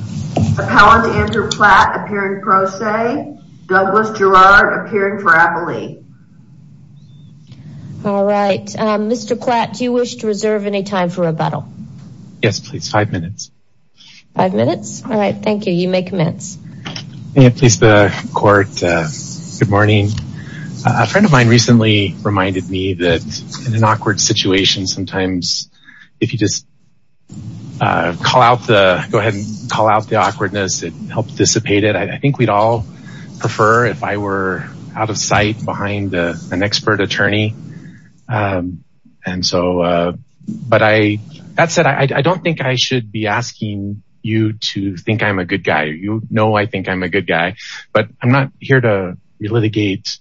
Appellant Andrew PLATT appearing pro se. Douglas Gerard appearing for appellee. All right. Mr. PLATT, do you wish to reserve any time for rebuttal? Yes, please. Five minutes. Five minutes? All right. Thank you. You may commence. May it please the court. Good morning. A friend of mine recently reminded me that in an awkward situation, sometimes if you just go ahead and call out the awkwardness, it helps dissipate it. I think we'd all prefer if I were out of sight behind an expert attorney. But that said, I don't think I should be asking you to think I'm a good guy. You know I think I'm a good guy, but I'm not here to litigate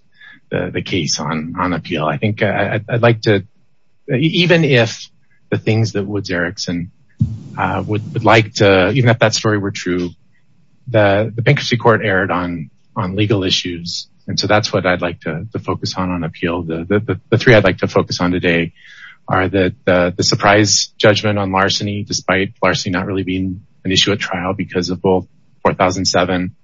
the case on appeal. I think I'd like to, even if the things that Woods Erickson would like to, even if that story were true, the bankruptcy court erred on legal issues. And so that's what I'd like to focus on on appeal. The three I'd like to focus on today are the surprise judgment on larceny, despite larceny not really being an issue at trial because of both 4007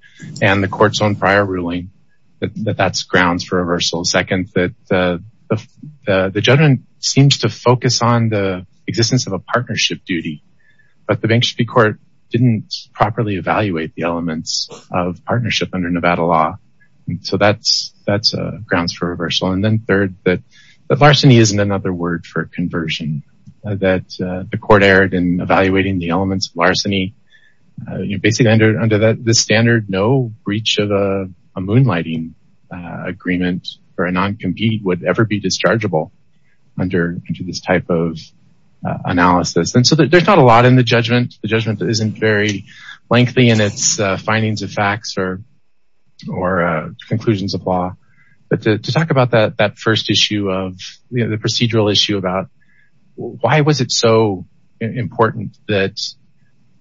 and the court's own prior ruling, that that's grounds for reversal. Second, that the judgment seems to focus on the existence of a partnership duty, but the bankruptcy court didn't properly evaluate the elements of partnership under Nevada law. So that's grounds for reversal. And then third, that larceny isn't another word for conversion, that the court erred in evaluating the elements of larceny. Basically under this standard, no breach of a moonlighting agreement or a non-compete would ever be dischargeable under this type of analysis. And so there's not a lot in the judgment. The judgment isn't very lengthy in its findings of facts or conclusions of law. But to talk about that first issue of the procedural issue about why was it so important that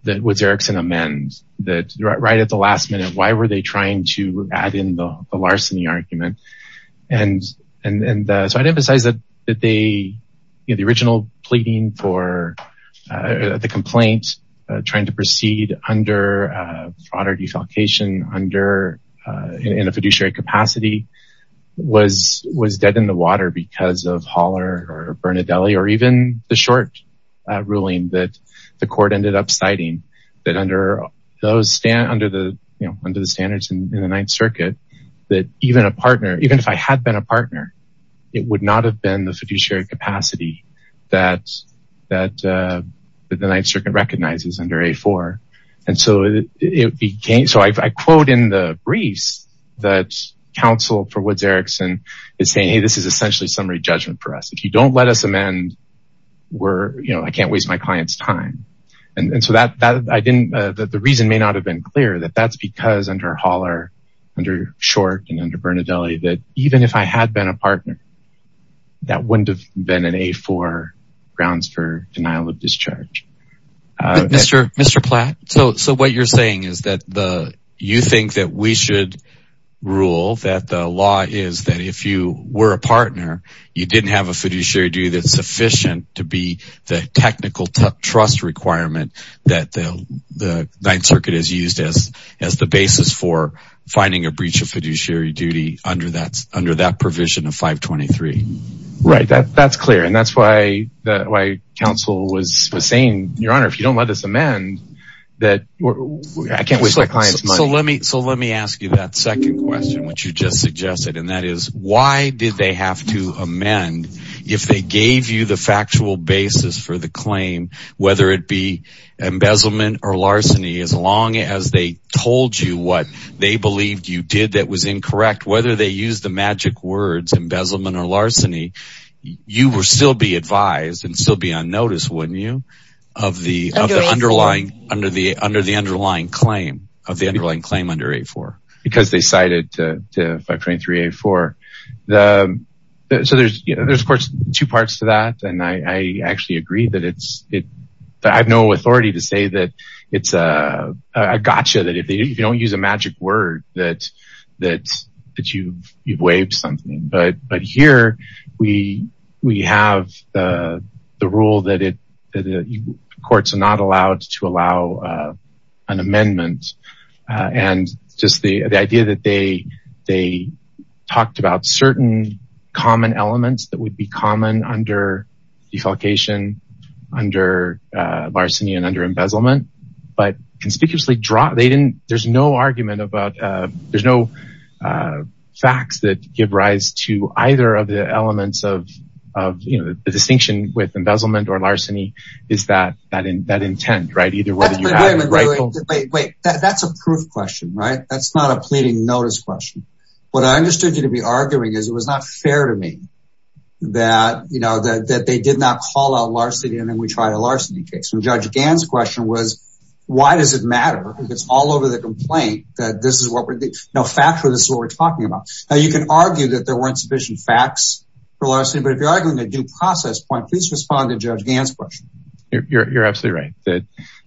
Woods Erickson amend, that right at the last minute, why were they trying to add in the larceny argument? And so I'd emphasize that the original pleading for the complaint, trying to proceed under defalcation in a fiduciary capacity, was dead in the water because of Haller or Bernadelli, or even the short ruling that the court ended up citing, that under the standards in the Ninth Circuit, that even if I had been a partner, it would not have been the fiduciary capacity that the Ninth Circuit recognizes under A4. And so I quote in the briefs that counsel for Woods Erickson is saying, hey, this is essentially summary judgment for us. If you don't let us amend, I can't waste my client's time. And so the reason may not have been clear that that's because under Haller, under Short and under Bernadelli, that even if I had been a partner, that wouldn't have been an A4 grounds for denial of discharge. Mr. Platt, so what you're saying is that you think that we should rule, that the law is that if you were a partner, you didn't have a fiduciary duty that's sufficient to be the technical trust requirement that the Ninth Circuit has used as the basis for finding a breach of fiduciary duty under that provision of 523. Right. That's clear. And that's why counsel was saying, Your Honor, if you don't let us amend, I can't waste my client's money. So let me ask you that second question, which you just suggested, and that is why did they have to amend if they gave you the factual basis for the claim, whether it be embezzlement or larceny, as long as they told you what they believed you did that was incorrect, whether they use the magic words embezzlement or larceny, you would still be advised and still be on notice, wouldn't you? Under the underlying claim of the underlying claim under A4. Because they cited 523 A4. So there's, of course, two parts to that. And I actually agree that I have no authority to say that it's a gotcha, that if you don't use a magic word, that you've waived something. But here we have the rule that courts are not allowed to allow an amendment. And just the idea that they they talked about certain common elements that would be common under defalcation, under larceny and under embezzlement, but conspicuously draw. They didn't. There's no argument about there's no facts that give rise to either of the elements of the distinction with embezzlement or larceny. That's a proof question, right? That's not a pleading notice question. What I understood you to be arguing is it was not fair to me that, you know, that they did not call out larceny and then we tried a larceny case. And Judge Gann's question was, why does it matter? It's all over the complaint that this is what we know. Factually, this is what we're talking about. Now, you can argue that there weren't sufficient facts for larceny. But if you're arguing a due process point, please respond to Judge Gann's question. You're absolutely right.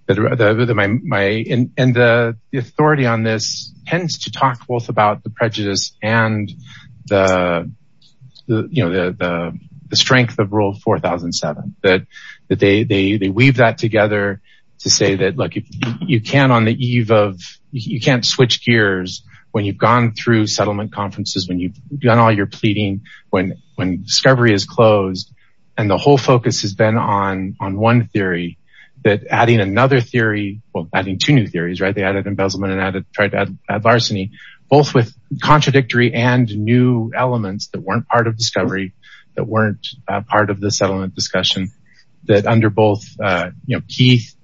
And the authority on this tends to talk both about the prejudice and the strength of Rule 4007. That they weave that together to say that, look, you can't on the eve of, you can't switch gears when you've gone through settlement conferences, when you've done all your pleading, when discovery is closed. And the whole focus has been on one theory that adding another theory, well, adding two new theories, right? They added embezzlement and tried to add larceny, both with contradictory and new elements that weren't part of discovery, that weren't part of the settlement discussion, that under both, you know, Keith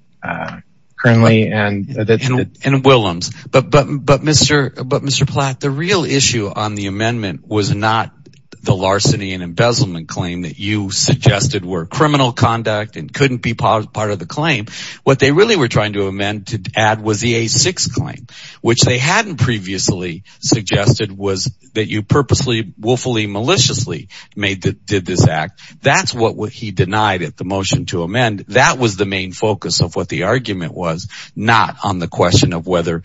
currently. And Willems. But, Mr. Platt, the real issue on the amendment was not the larceny and embezzlement claim that you suggested were criminal conduct and couldn't be part of the claim. What they really were trying to amend to add was the A6 claim, which they hadn't previously suggested was that you purposely, woefully, maliciously did this act. That's what he denied at the motion to amend. And that was the main focus of what the argument was, not on the question of whether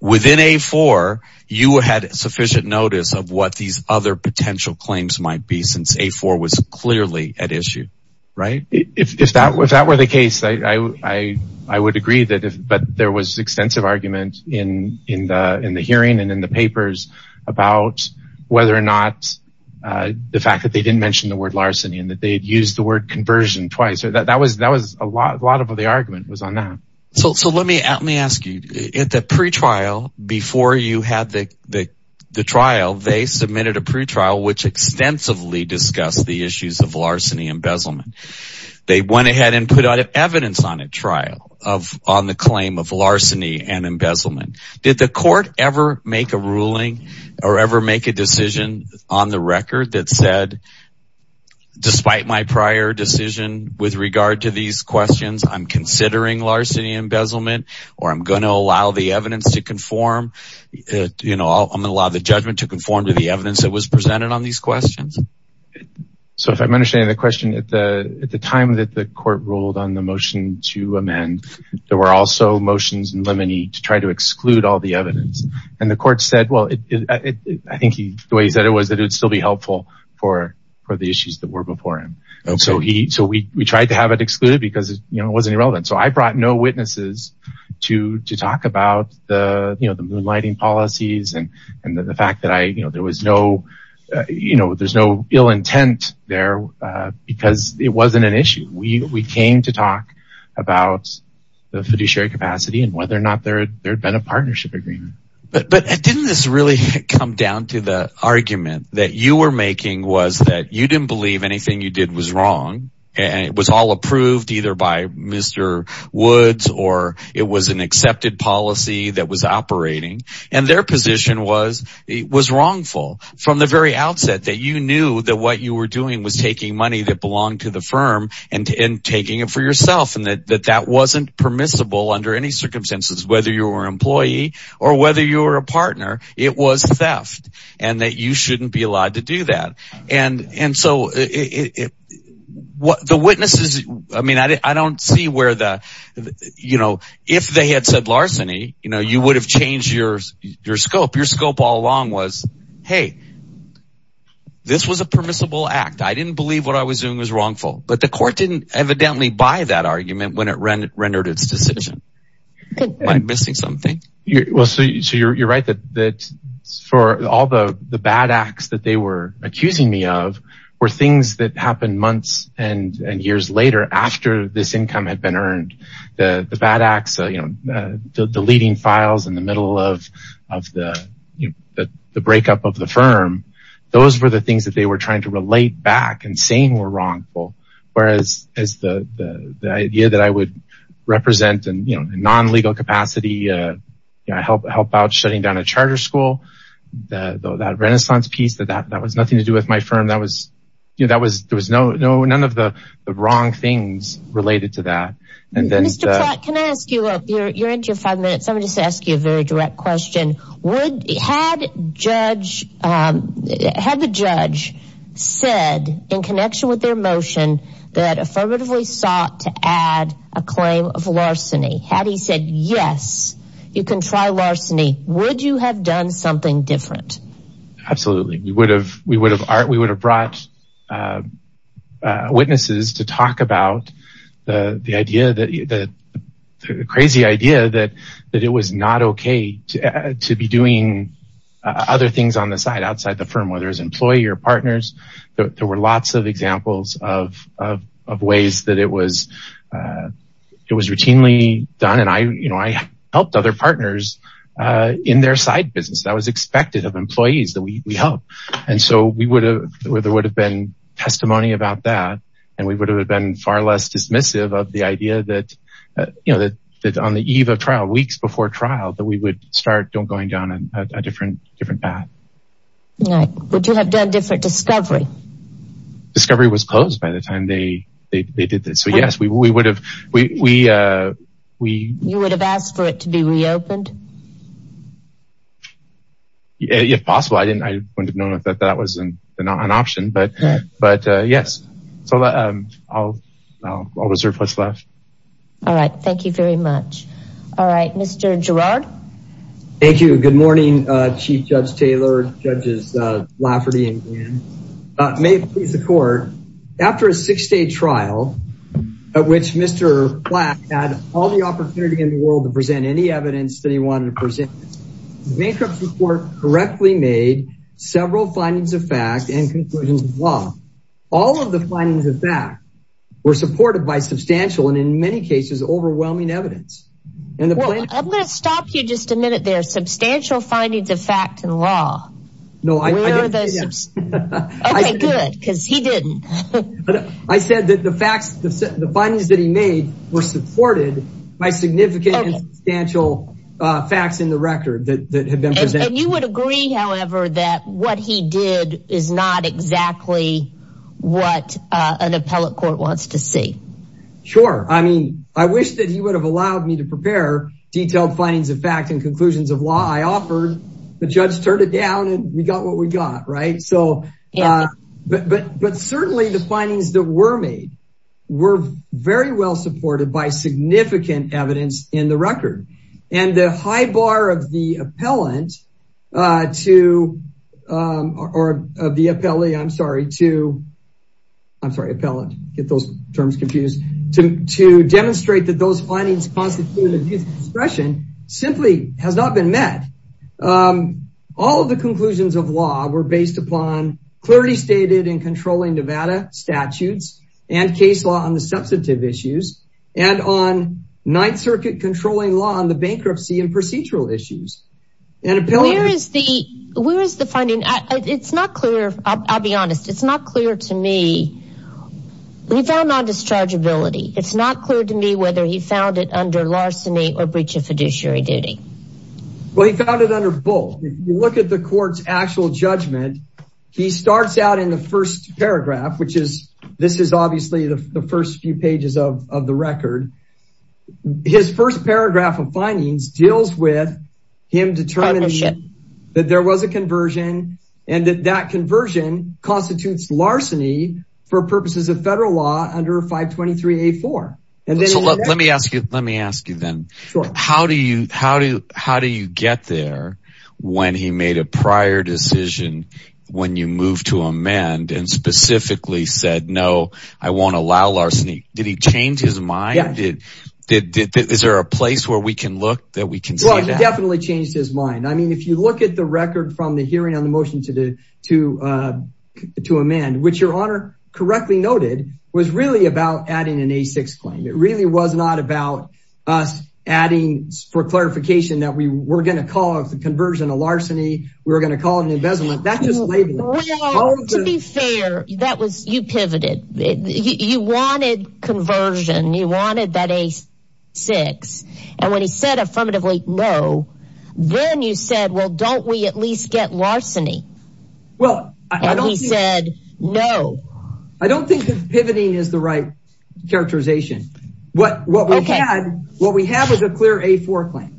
within A4, you had sufficient notice of what these other potential claims might be, since A4 was clearly at issue, right? If that were the case, I would agree, but there was extensive argument in the hearing and in the papers about whether or not the fact that they didn't mention the word larceny and that they had used the word conversion twice. That was a lot of what the argument was on that. So let me ask you. At the pretrial, before you had the trial, they submitted a pretrial which extensively discussed the issues of larceny and embezzlement. They went ahead and put evidence on a trial on the claim of larceny and embezzlement. Did the court ever make a ruling or ever make a decision on the record that said despite my prior decision with regard to these questions, I'm considering larceny and embezzlement or I'm going to allow the evidence to conform? I'm going to allow the judgment to conform to the evidence that was presented on these questions? So if I'm understanding the question, at the time that the court ruled on the motion to amend, there were also motions in limine to try to exclude all the evidence. I think the way he said it was that it would still be helpful for the issues that were before him. So we tried to have it excluded because it wasn't relevant. So I brought no witnesses to talk about the moonlighting policies and the fact that there was no ill intent there because it wasn't an issue. We came to talk about the fiduciary capacity and whether or not there had been a partnership agreement. But didn't this really come down to the argument that you were making was that you didn't believe anything you did was wrong and it was all approved either by Mr. Woods or it was an accepted policy that was operating and their position was it was wrongful from the very outset that you knew that what you were doing was taking money that belonged to the firm and taking it for yourself and that that wasn't permissible under any circumstances whether you were an employee or whether you were a partner. It was theft and that you shouldn't be allowed to do that. And so the witnesses – I mean I don't see where the – if they had said larceny, you would have changed your scope. Your scope all along was, hey, this was a permissible act. I didn't believe what I was doing was wrongful. But the court didn't evidently buy that argument when it rendered its decision. Am I missing something? So you're right that for all the bad acts that they were accusing me of were things that happened months and years later after this income had been earned. The bad acts, deleting files in the middle of the breakup of the firm, those were the things that they were trying to relate back and saying were wrongful. Whereas the idea that I would represent in non-legal capacity, help out shutting down a charter school, that renaissance piece, that was nothing to do with my firm. There was none of the wrong things related to that. Mr. Plott, can I ask you – you're into your five minutes. I'm going to just ask you a very direct question. Had the judge said in connection with their motion that affirmatively sought to add a claim of larceny, had he said yes, you can try larceny, would you have done something different? Absolutely. We would have brought witnesses to talk about the crazy idea that it was not okay to be doing other things on the side, outside the firm, whether it was an employee or partners. There were lots of examples of ways that it was routinely done. I helped other partners in their side business. I was expected of employees that we helped. There would have been testimony about that and we would have been far less dismissive of the idea that on the eve of trial, weeks before trial, that we would start going down a different path. Would you have done different discovery? Discovery was closed by the time they did this. You would have asked for it to be reopened? If possible. I wouldn't have known that that was an option. But yes. I'll reserve what's left. All right. Thank you very much. Mr. Girard? Thank you. Good morning, Chief Judge Taylor, Judges Lafferty and Gannon. May it please the court. After a six-day trial at which Mr. Platt had all the opportunity in the world to present any evidence that he wanted to present, the bankruptcy court correctly made several findings of fact and conclusions of law. All of the findings of fact were supported by substantial and in many cases overwhelming evidence. I'm going to stop you just a minute there. Substantial findings of fact and law. Where are those? Okay, good, because he didn't. I said that the findings that he made were supported by significant and substantial facts in the record that had been presented. And you would agree, however, that what he did is not exactly what an appellate court wants to see? Sure. I mean, I wish that he would have allowed me to prepare detailed findings of fact and conclusions of law. I offered. The judge turned it down and we got what we got. Right. So but certainly the findings that were made were very well supported by significant evidence in the record. And the high bar of the appellant to or of the appellee. I'm sorry to. I'm sorry, appellant. Get those terms confused to demonstrate that those findings constitute an expression simply has not been met. All of the conclusions of law were based upon clarity stated in controlling Nevada statutes and case law on the substantive issues and on Ninth Circuit controlling law on the bankruptcy and procedural issues. And where is the where is the funding? It's not clear. I'll be honest. It's not clear to me. We found on discharge ability. It's not clear to me whether he found it under larceny or breach of fiduciary duty. Well, he found it under both. Look at the court's actual judgment. He starts out in the first paragraph, which is this is obviously the first few pages of the record. His first paragraph of findings deals with him determining that there was a conversion and that that conversion constitutes larceny for purposes of federal law under 523 A4. Let me ask you. Let me ask you then. How do you how do you how do you get there when he made a prior decision when you move to amend and specifically said, no, I won't allow larceny. Did he change his mind? Is there a place where we can look that we can definitely change his mind? I mean, if you look at the record from the hearing on the motion to to to amend, which your honor correctly noted, was really about adding an A6 claim. It really was not about us adding for clarification that we were going to call the conversion of larceny. We're going to call it an embezzlement. That's just to be fair. That was you pivoted. You wanted conversion. You wanted that A6. And when he said affirmatively, no. Then you said, well, don't we at least get larceny? Well, I don't. He said no. I don't think pivoting is the right characterization. What what we had what we have is a clear A4 claim.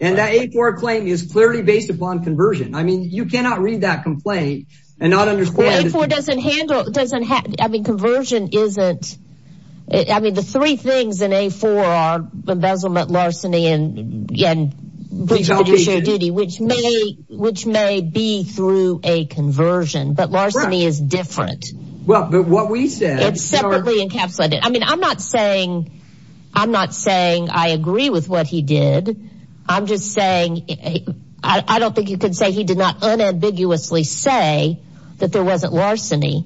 And that A4 claim is clearly based upon conversion. I mean, you cannot read that complaint and not understand. It doesn't happen. I mean, conversion isn't. I mean, the three things in a four are embezzlement, larceny and breach of judicial duty, which may which may be through a conversion. But larceny is different. Well, but what we said separately encapsulated. I mean, I'm not saying I'm not saying I agree with what he did. I'm just saying I don't think you could say he did not unambiguously say that there wasn't larceny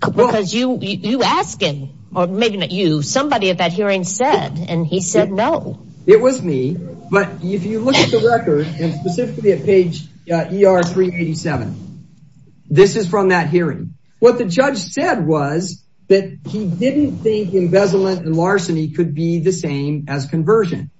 because you you ask him or maybe not you. Somebody at that hearing said and he said, no, it was me. But if you look at the record and specifically at page three, 87, this is from that hearing. What the judge said was that he didn't think embezzlement and larceny could be the same as conversion.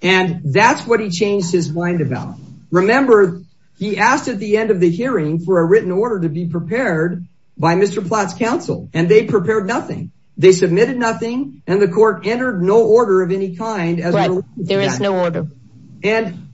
And that's what he changed his mind about. Remember, he asked at the end of the hearing for a written order to be prepared by Mr. Platt's counsel. And they prepared nothing. They submitted nothing. And the court entered no order of any kind. There is no order. And.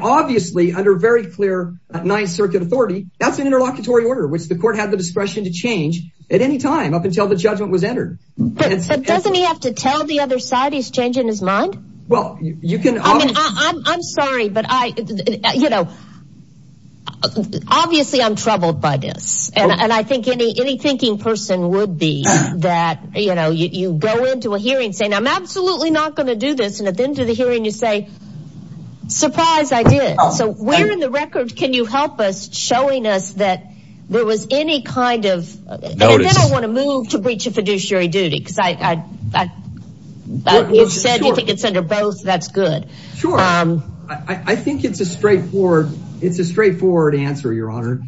Obviously, under very clear Ninth Circuit authority, that's an interlocutory order, which the court had the discretion to change at any time up until the judgment was entered. But doesn't he have to tell the other side he's changing his mind? Well, you can. I'm sorry, but I, you know. Obviously, I'm troubled by this. And I think any any thinking person would be that, you know, you go into a hearing saying, I'm absolutely not going to do this. And at the end of the hearing, you say, surprise, I did. So we're in the record. Can you help us showing us that there was any kind of. I don't want to move to breach of fiduciary duty because I said it's under both. That's good. Sure. I think it's a straightforward. It's a straightforward answer, Your Honor.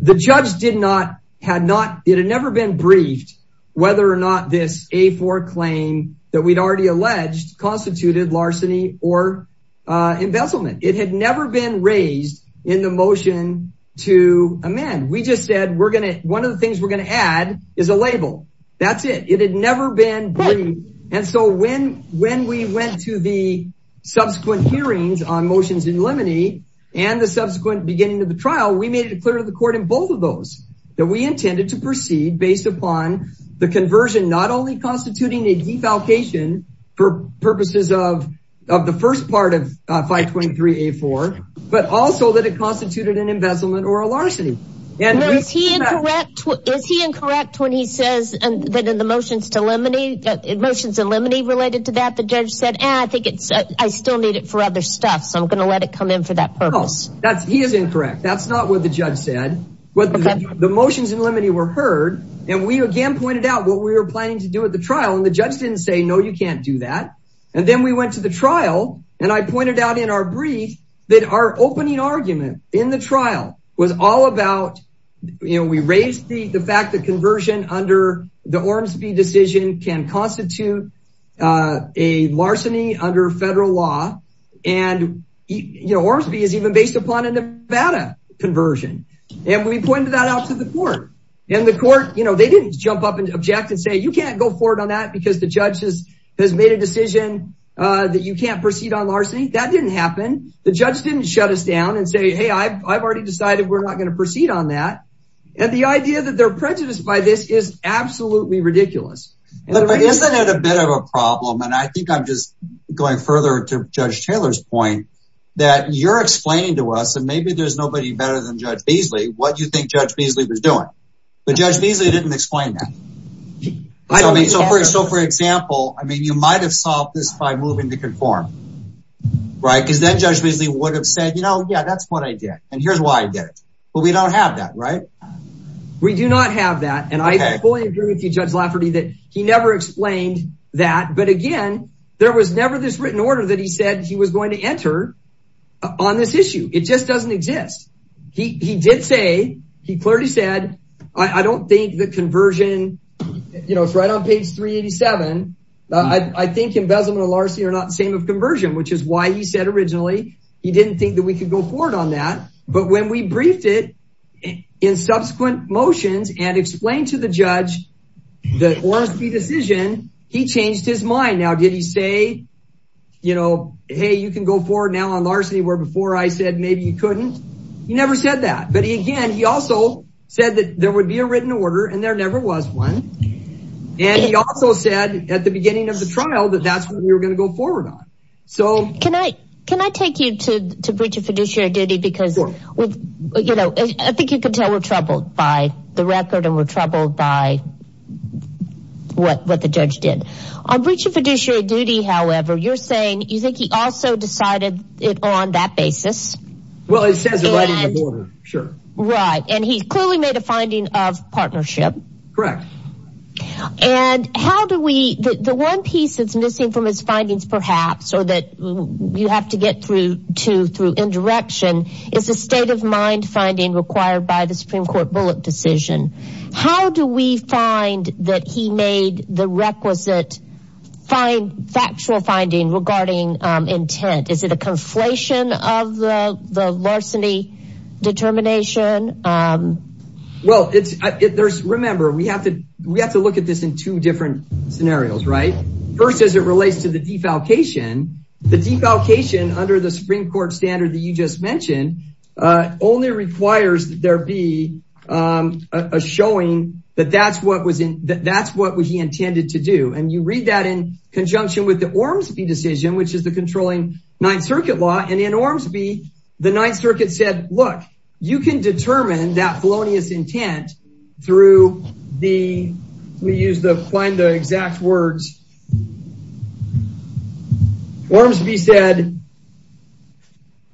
The judge did not had not. It had never been briefed whether or not this a four claim that we'd already alleged constituted larceny or embezzlement. It had never been raised in the motion to amend. We just said we're going to one of the things we're going to add is a label. That's it. It had never been. And so when when we went to the subsequent hearings on motions in Lemony and the subsequent beginning of the trial, we made it clear to the court in both of those that we intended to proceed based upon the conversion, not only constituting a defalcation for purposes of of the first part of 523 A4, but also that it constituted an embezzlement or a larceny. Is he incorrect? Is he incorrect when he says that in the motions to Lemony motions in Lemony related to that? The judge said, I think it's I still need it for other stuff. So I'm going to let it come in for that purpose. That's he is incorrect. That's not what the judge said. But the motions in Lemony were heard. And we again pointed out what we were planning to do at the trial. And the judge didn't say, no, you can't do that. And then we went to the trial, and I pointed out in our brief that our opening argument in the trial was all about, we raised the fact that conversion under the Ormsby decision can constitute a larceny under federal law. And Ormsby is even based upon a Nevada conversion. And we pointed that out to the court. And the court, you know, they didn't jump up and object and say, you can't go forward on that because the judges has made a decision that you can't proceed on larceny. That didn't happen. The judge didn't shut us down and say, hey, I've already decided we're not going to proceed on that. And the idea that they're prejudiced by this is absolutely ridiculous. Isn't it a bit of a problem? And I think I'm just going further to Judge Taylor's point that you're explaining to us and maybe there's nobody better than Judge Beasley what you think Judge Beasley was doing. But Judge Beasley didn't explain that. So for example, I mean, you might have solved this by moving to conform, right? Because then Judge Beasley would have said, you know, yeah, that's what I did. And here's why I did it. But we don't have that, right? We do not have that. And I fully agree with you, Judge Lafferty, that he never explained that. But again, there was never this written order that he said he was going to enter on this issue. It just doesn't exist. He did say, he clearly said, I don't think the conversion, you know, it's right on page 387. I think embezzlement of larceny are not the same of conversion, which is why he said originally he didn't think that we could go forward on that. But when we briefed it in subsequent motions and explained to the judge the Ormsby decision, he changed his mind. Now, did he say, you know, hey, you can go forward now on larceny where before I said maybe you couldn't? He never said that. But again, he also said that there would be a written order and there never was one. And he also said at the beginning of the trial that that's what we were going to go forward on. Can I take you to breach of fiduciary duty because, you know, I think you can tell we're troubled by the record and we're troubled by what the judge did. On breach of fiduciary duty, however, you're saying you think he also decided it on that basis? Well, it says it right on the border, sure. Right. And he clearly made a finding of partnership. Correct. And how do we the one piece that's missing from his findings, perhaps, or that you have to get through to through indirection is a state of mind finding required by the Supreme Court bullet decision. How do we find that he made the requisite fine factual finding regarding intent? Is it a conflation of the larceny determination? Well, it's if there's remember, we have to we have to look at this in two different scenarios. Right. First, as it relates to the defalcation, the defalcation under the Supreme Court standard that you just mentioned only requires that there be a showing that that's what was that that's what he intended to do. And you read that in conjunction with the Ormsby decision, which is the controlling Ninth Circuit law. And in Ormsby, the Ninth Circuit said, look, you can determine that felonious intent through the we use the find the exact words. Ormsby said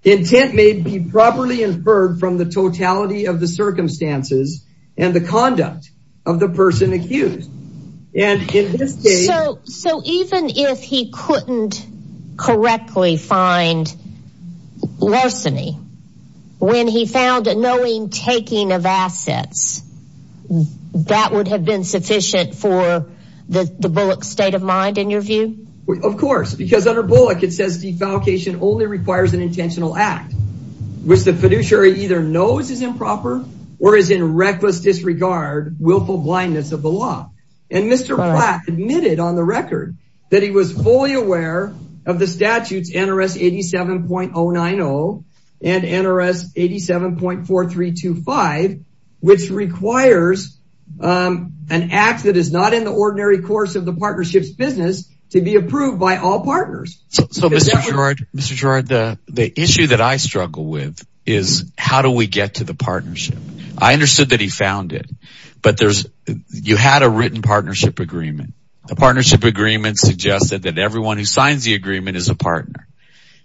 intent may be properly inferred from the totality of the circumstances and the conduct of the person accused. And so even if he couldn't correctly find larceny when he found a knowing taking of assets, that would have been sufficient for the Bullock state of mind, in your view. Of course, because under Bullock, it says defalcation only requires an intentional act, which the fiduciary either knows is improper or is in reckless disregard, willful blindness of the law. And Mr. Platt admitted on the record that he was fully aware of the statutes NRS 87.090 and NRS 87.4325, which requires an act that is not in the ordinary course of the partnerships business to be approved by all partners. So, Mr. George, Mr. George, the issue that I struggle with is how do we get to the partnership? I understood that he found it, but there's you had a written partnership agreement. The partnership agreement suggested that everyone who signs the agreement is a partner.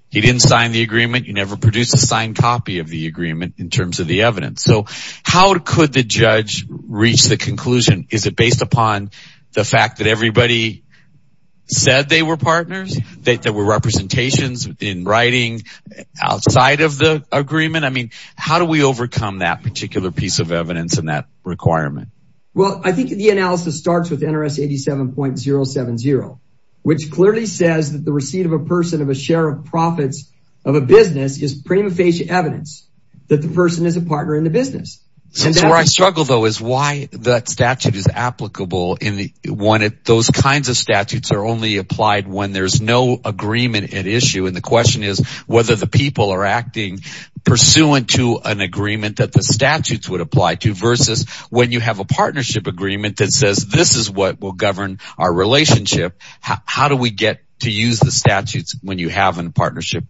He didn't sign the agreement. You never produce a signed copy of the agreement in terms of the evidence. So how could the judge reach the conclusion? Is it based upon the fact that everybody said they were partners, that there were representations in writing outside of the agreement? I mean, how do we overcome that particular piece of evidence in that requirement? Well, I think the analysis starts with NRS 87.070, which clearly says that the receipt of a person of a share of profits of a business is prima facie evidence that the person is a partner in the business. That's where I struggle, though, is why that statute is applicable in one of those kinds of statutes are only applied when there's no agreement at issue. And the question is whether the people are acting pursuant to an agreement that the statutes would apply to versus when you have a partnership agreement that says this is what will govern our relationship. How do we get to use the statutes when you have a partnership?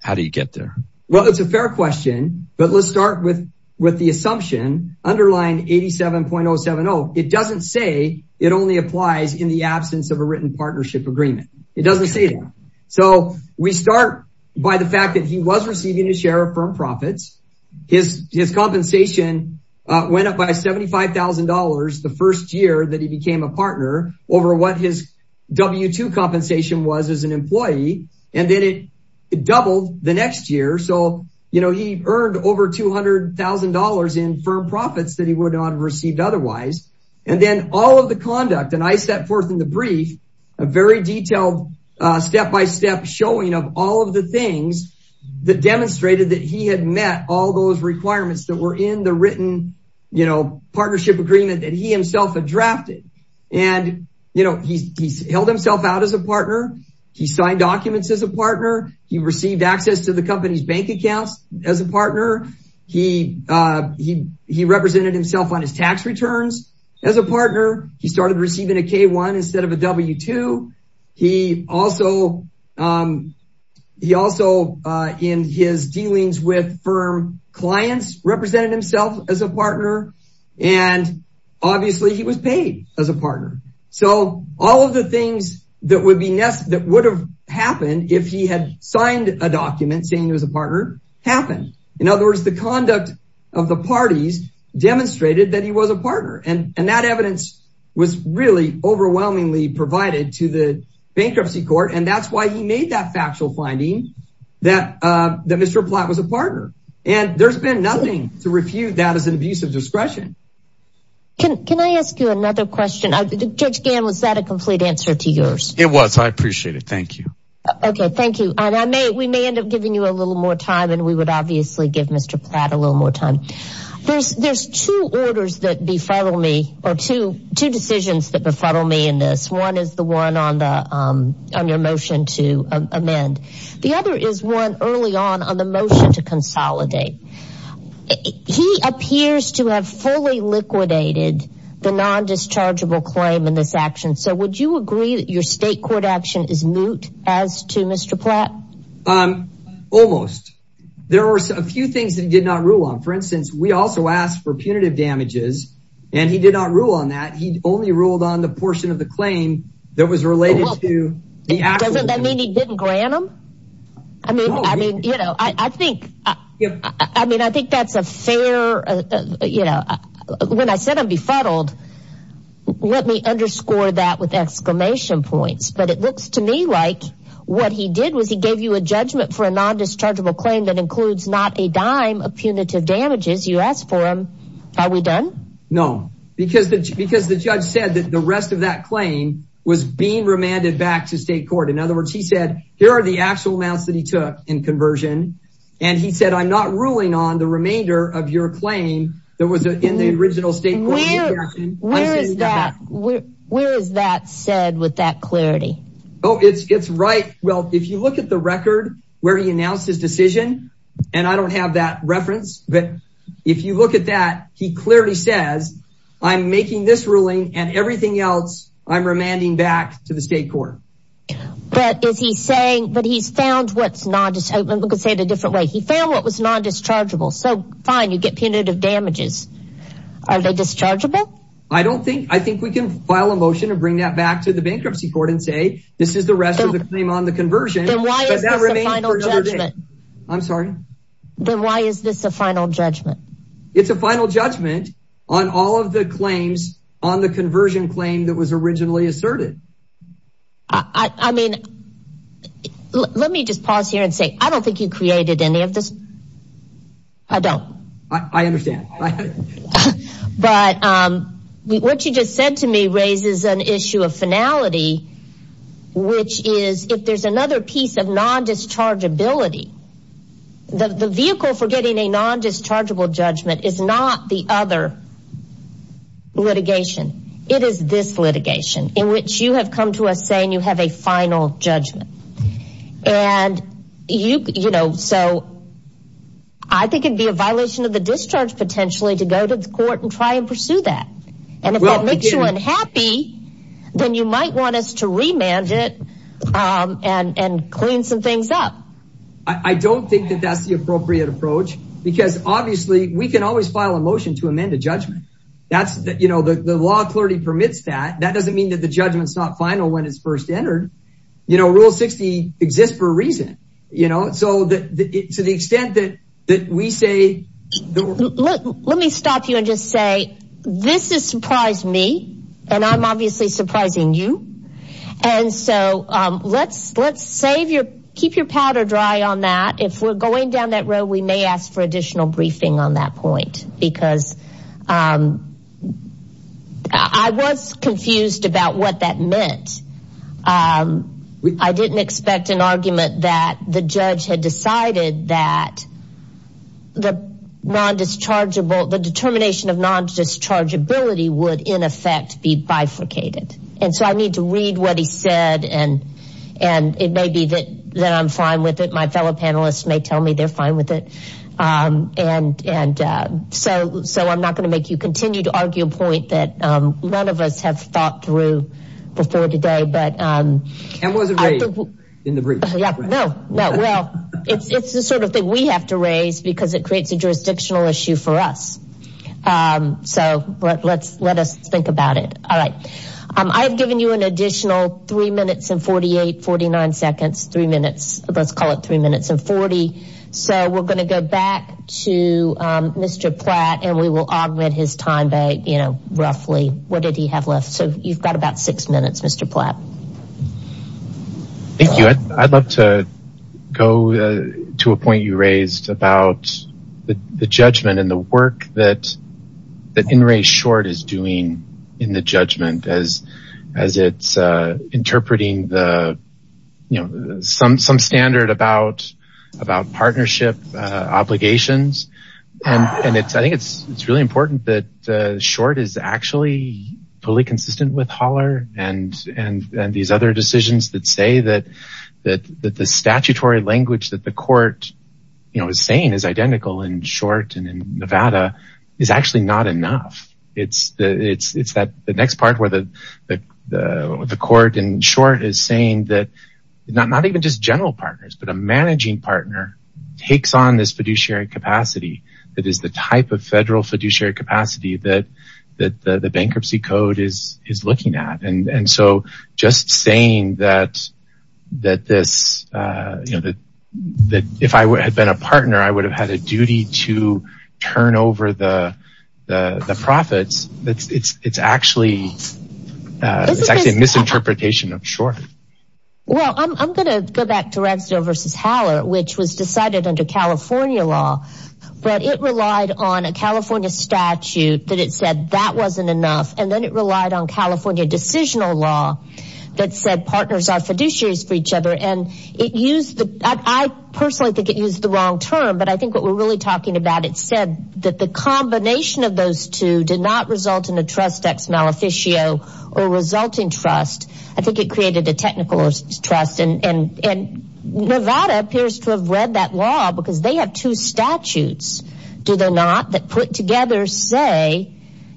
How do you get there? Well, it's a fair question, but let's start with the assumption underlying 87.070. It doesn't say it only applies in the absence of a written partnership agreement. It doesn't say that. So we start by the fact that he was receiving a share of firm profits. His compensation went up by $75,000 the first year that he became a partner over what his W2 compensation was as an employee. And then it doubled the next year. So, you know, he earned over $200,000 in firm profits that he would not have received otherwise. And then all of the conduct and I set forth in the brief a very detailed step-by-step showing of all of the things that demonstrated that he had met all those requirements that were in the written partnership agreement that he himself had drafted. And, you know, he held himself out as a partner. He signed documents as a partner. He received access to the company's bank accounts as a partner. He represented himself on his tax returns as a partner. He started receiving a K1 instead of a W2. He also in his dealings with firm clients represented himself as a partner. And obviously he was paid as a partner. So all of the things that would have happened if he had signed a document saying he was a partner happened. In other words, the conduct of the parties demonstrated that he was a partner. And that evidence was really overwhelmingly provided to the bankruptcy court. And that's why he made that factual finding that Mr. Platt was a partner. And there's been nothing to refute that as an abuse of discretion. Can I ask you another question? Judge Gamm, was that a complete answer to yours? It was. I appreciate it. Thank you. Okay. Thank you. And we may end up giving you a little more time and we would obviously give Mr. Platt a little more time. There's two orders that befuddle me or two decisions that befuddle me in this. One is the one on your motion to amend. The other is one early on on the motion to consolidate. He appears to have fully liquidated the non-dischargeable claim in this action. So would you agree that your state court action is moot as to Mr. Platt? Almost. There are a few things that he did not rule on. For instance, we also asked for punitive damages and he did not rule on that. He only ruled on the portion of the claim that was related to the actual. Doesn't that mean he didn't grant them? I mean, I mean, you know, I think I mean, I think that's a fair, you know, when I said I'm befuddled. Let me underscore that with exclamation points. But it looks to me like what he did was he gave you a judgment for a non-dischargeable claim that includes not a dime of punitive damages. You asked for him. Are we done? No, because because the judge said that the rest of that claim was being remanded back to state court. In other words, he said, here are the actual amounts that he took in conversion. And he said, I'm not ruling on the remainder of your claim that was in the original state. Where is that? Where is that said with that clarity? Oh, it's it's right. Well, if you look at the record where he announced his decision and I don't have that reference. But if you look at that, he clearly says, I'm making this ruling and everything else. I'm remanding back to the state court. But is he saying that he's found what's not just a different way? He found what was non-dischargeable. So fine. You get punitive damages. Are they dischargeable? I don't think I think we can file a motion to bring that back to the bankruptcy court and say this is the rest of the claim on the conversion. Why is that? I'm sorry. Then why is this a final judgment? It's a final judgment on all of the claims on the conversion claim that was originally asserted. I mean, let me just pause here and say, I don't think you created any of this. I don't. I understand. But what you just said to me raises an issue of finality, which is if there's another piece of non-dischargeability. The vehicle for getting a non-dischargeable judgment is not the other litigation. It is this litigation in which you have come to us saying you have a final judgment. And you know, so. I think it'd be a violation of the discharge potentially to go to court and try and pursue that. And if that makes you unhappy, then you might want us to remand it and clean some things up. I don't think that that's the appropriate approach, because obviously we can always file a motion to amend a judgment. That's the law. Clarity permits that. That doesn't mean that the judgment's not final when it's first entered. You know, rule 60 exists for a reason, you know, so that to the extent that that we say. Let me stop you and just say this has surprised me and I'm obviously surprising you. And so let's save your, keep your powder dry on that. If we're going down that road, we may ask for additional briefing on that point. Because I was confused about what that meant. I didn't expect an argument that the judge had decided that the non-dischargeable, the determination of non-dischargeability would in effect be bifurcated. And so I need to read what he said, and it may be that I'm fine with it. My fellow panelists may tell me they're fine with it. And so I'm not going to make you continue to argue a point that none of us have thought through before today. And was it raised in the brief? No, no. Well, it's the sort of thing we have to raise because it creates a jurisdictional issue for us. So let us think about it. All right. I have given you an additional three minutes and 48, 49 seconds, three minutes. Let's call it three minutes and 40. So we're going to go back to Mr. Platt and we will augment his time roughly. What did he have left? So you've got about six minutes, Mr. Platt. Thank you. I'd love to go to a point you raised about the judgment and the work that in race short is doing in the judgment as it's interpreting the, you know, some standard about partnership obligations. And I think it's really important that short is actually fully consistent with Holler and these other decisions that say that the statutory language that the court, you know, is saying is identical in short and in Nevada is actually not enough. It's that the next part where the court in short is saying that not even just general partners, but a managing partner takes on this fiduciary capacity that is the type of federal fiduciary capacity that the bankruptcy code is looking at. And so just saying that, that this, you know, that if I had been a partner, I would have had a duty to turn over the profits. It's actually, it's actually a misinterpretation of short. Well, I'm going to go back to Redstone versus Haller, which was decided under California law, but it relied on a California statute that it said that wasn't enough. And then it relied on California decisional law that said partners are fiduciaries for each other. And it used, I personally think it used the wrong term, but I think what we're really talking about, it said that the combination of those two did not result in a trust ex maleficio or resulting trust. I think it created a technical trust. And Nevada appears to have read that law because they have two statutes, do they not, that put together say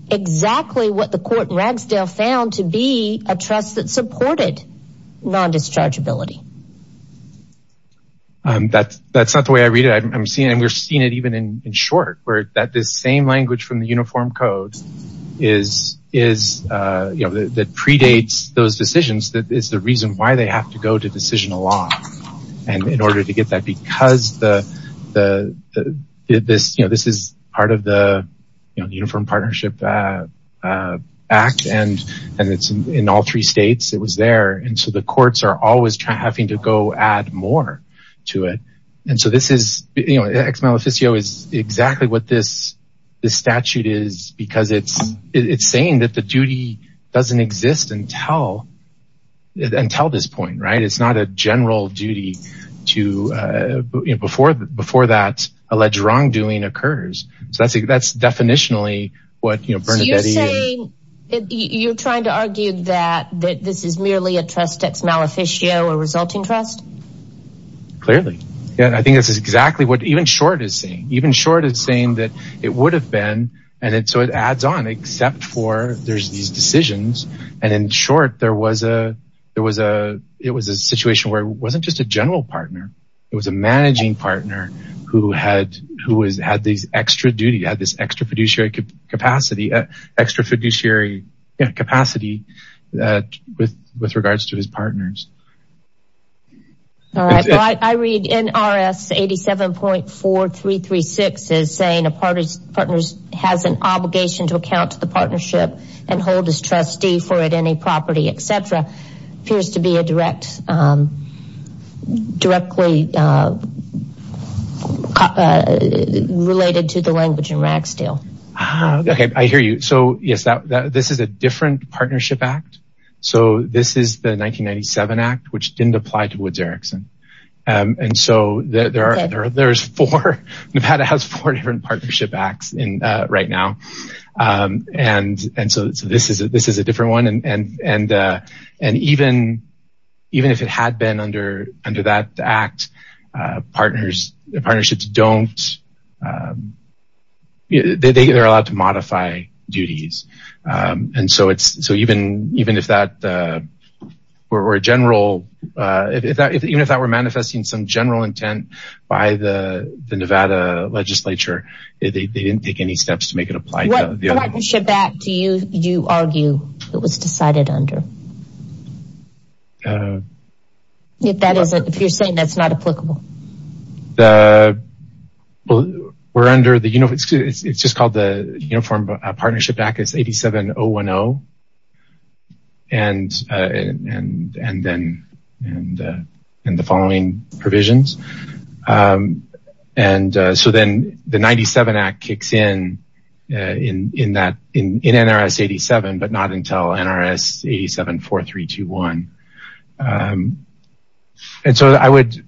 exactly what the court in Ragsdale found to be a trust that supported non-dischargeability. That's not the way I read it. We're seeing it even in short where that this same language from the uniform code is, that predates those decisions that is the reason why they have to go to decisional law. And in order to get that, because this is part of the Uniform Partnership Act, and it's in all three states, it was there. And so the courts are always having to go add more to it. And so this is, you know, ex maleficio is exactly what this statute is, because it's saying that the duty doesn't exist until this point, right? It's not a general duty to, you know, before that alleged wrongdoing occurs. So that's definitionally what, you know, Bernadette is- So you're saying, you're trying to argue that this is merely a trust ex maleficio or resulting trust? Clearly. Yeah, I think this is exactly what even short is saying. Even short is saying that it would have been, and so it adds on except for there's these decisions. And in short, there was a, it was a situation where it wasn't just a general partner. It was a managing partner who had these extra duty, had this extra fiduciary capacity with regards to his partners. All right. I read NRS 87.4336 is saying a partner has an obligation to account to the partnership and hold his trustee for it, any property, etc. Appears to be a direct, directly related to the language in Ragsdale. Okay, I hear you. So yes, this is a different partnership act. So this is the 1997 act, which didn't apply to Woods Erickson. And so there's four, Nevada has four different partnership acts right now. And so this is a different one. And even if it had been under that act, partners, the partnerships don't, they're allowed to modify duties. And so it's, so even if that were a general, even if that were manifesting some general intent by the Nevada legislature, they didn't take any steps to make it apply to the other. What partnership act do you argue it was decided under? If that isn't, if you're saying that's not applicable. Well, we're under the, it's just called the Uniform Partnership Act, it's 87010. And then, and the following provisions. And so then the 97 act kicks in, in NRS 87, but not until NRS 874321. And so I would,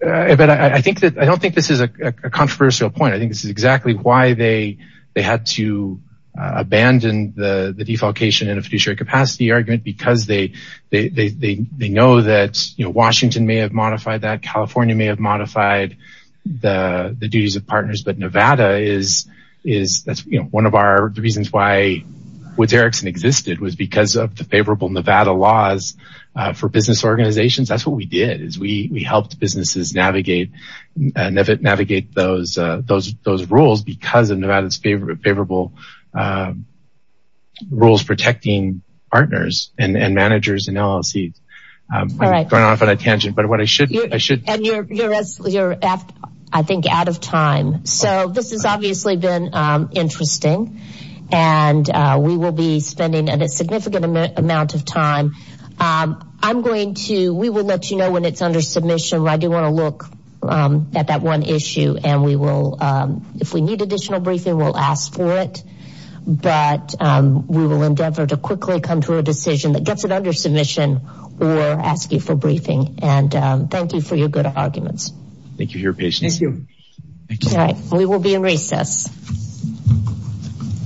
but I think that, I don't think this is a controversial point. I think this is exactly why they had to abandon the defalcation in a fiduciary capacity argument, because they know that Washington may have modified that, California may have modified the duties of partners. But Nevada is, that's one of our reasons why Woods Erickson existed, was because of the favorable Nevada laws for business organizations. That's what we did, is we helped businesses navigate those rules because of Nevada's favorable rules protecting partners and managers and LLCs. All right. Going off on a tangent, but what I should. And you're, I think out of time. So this has obviously been interesting. And we will be spending a significant amount of time. I'm going to, we will let you know when it's under submission. I do want to look at that one issue, and we will, if we need additional briefing, we'll ask for it. But we will endeavor to quickly come to a decision that gets it under submission or ask you for briefing. And thank you for your good arguments. Thank you for your patience. Thank you. All right. We will be in recess.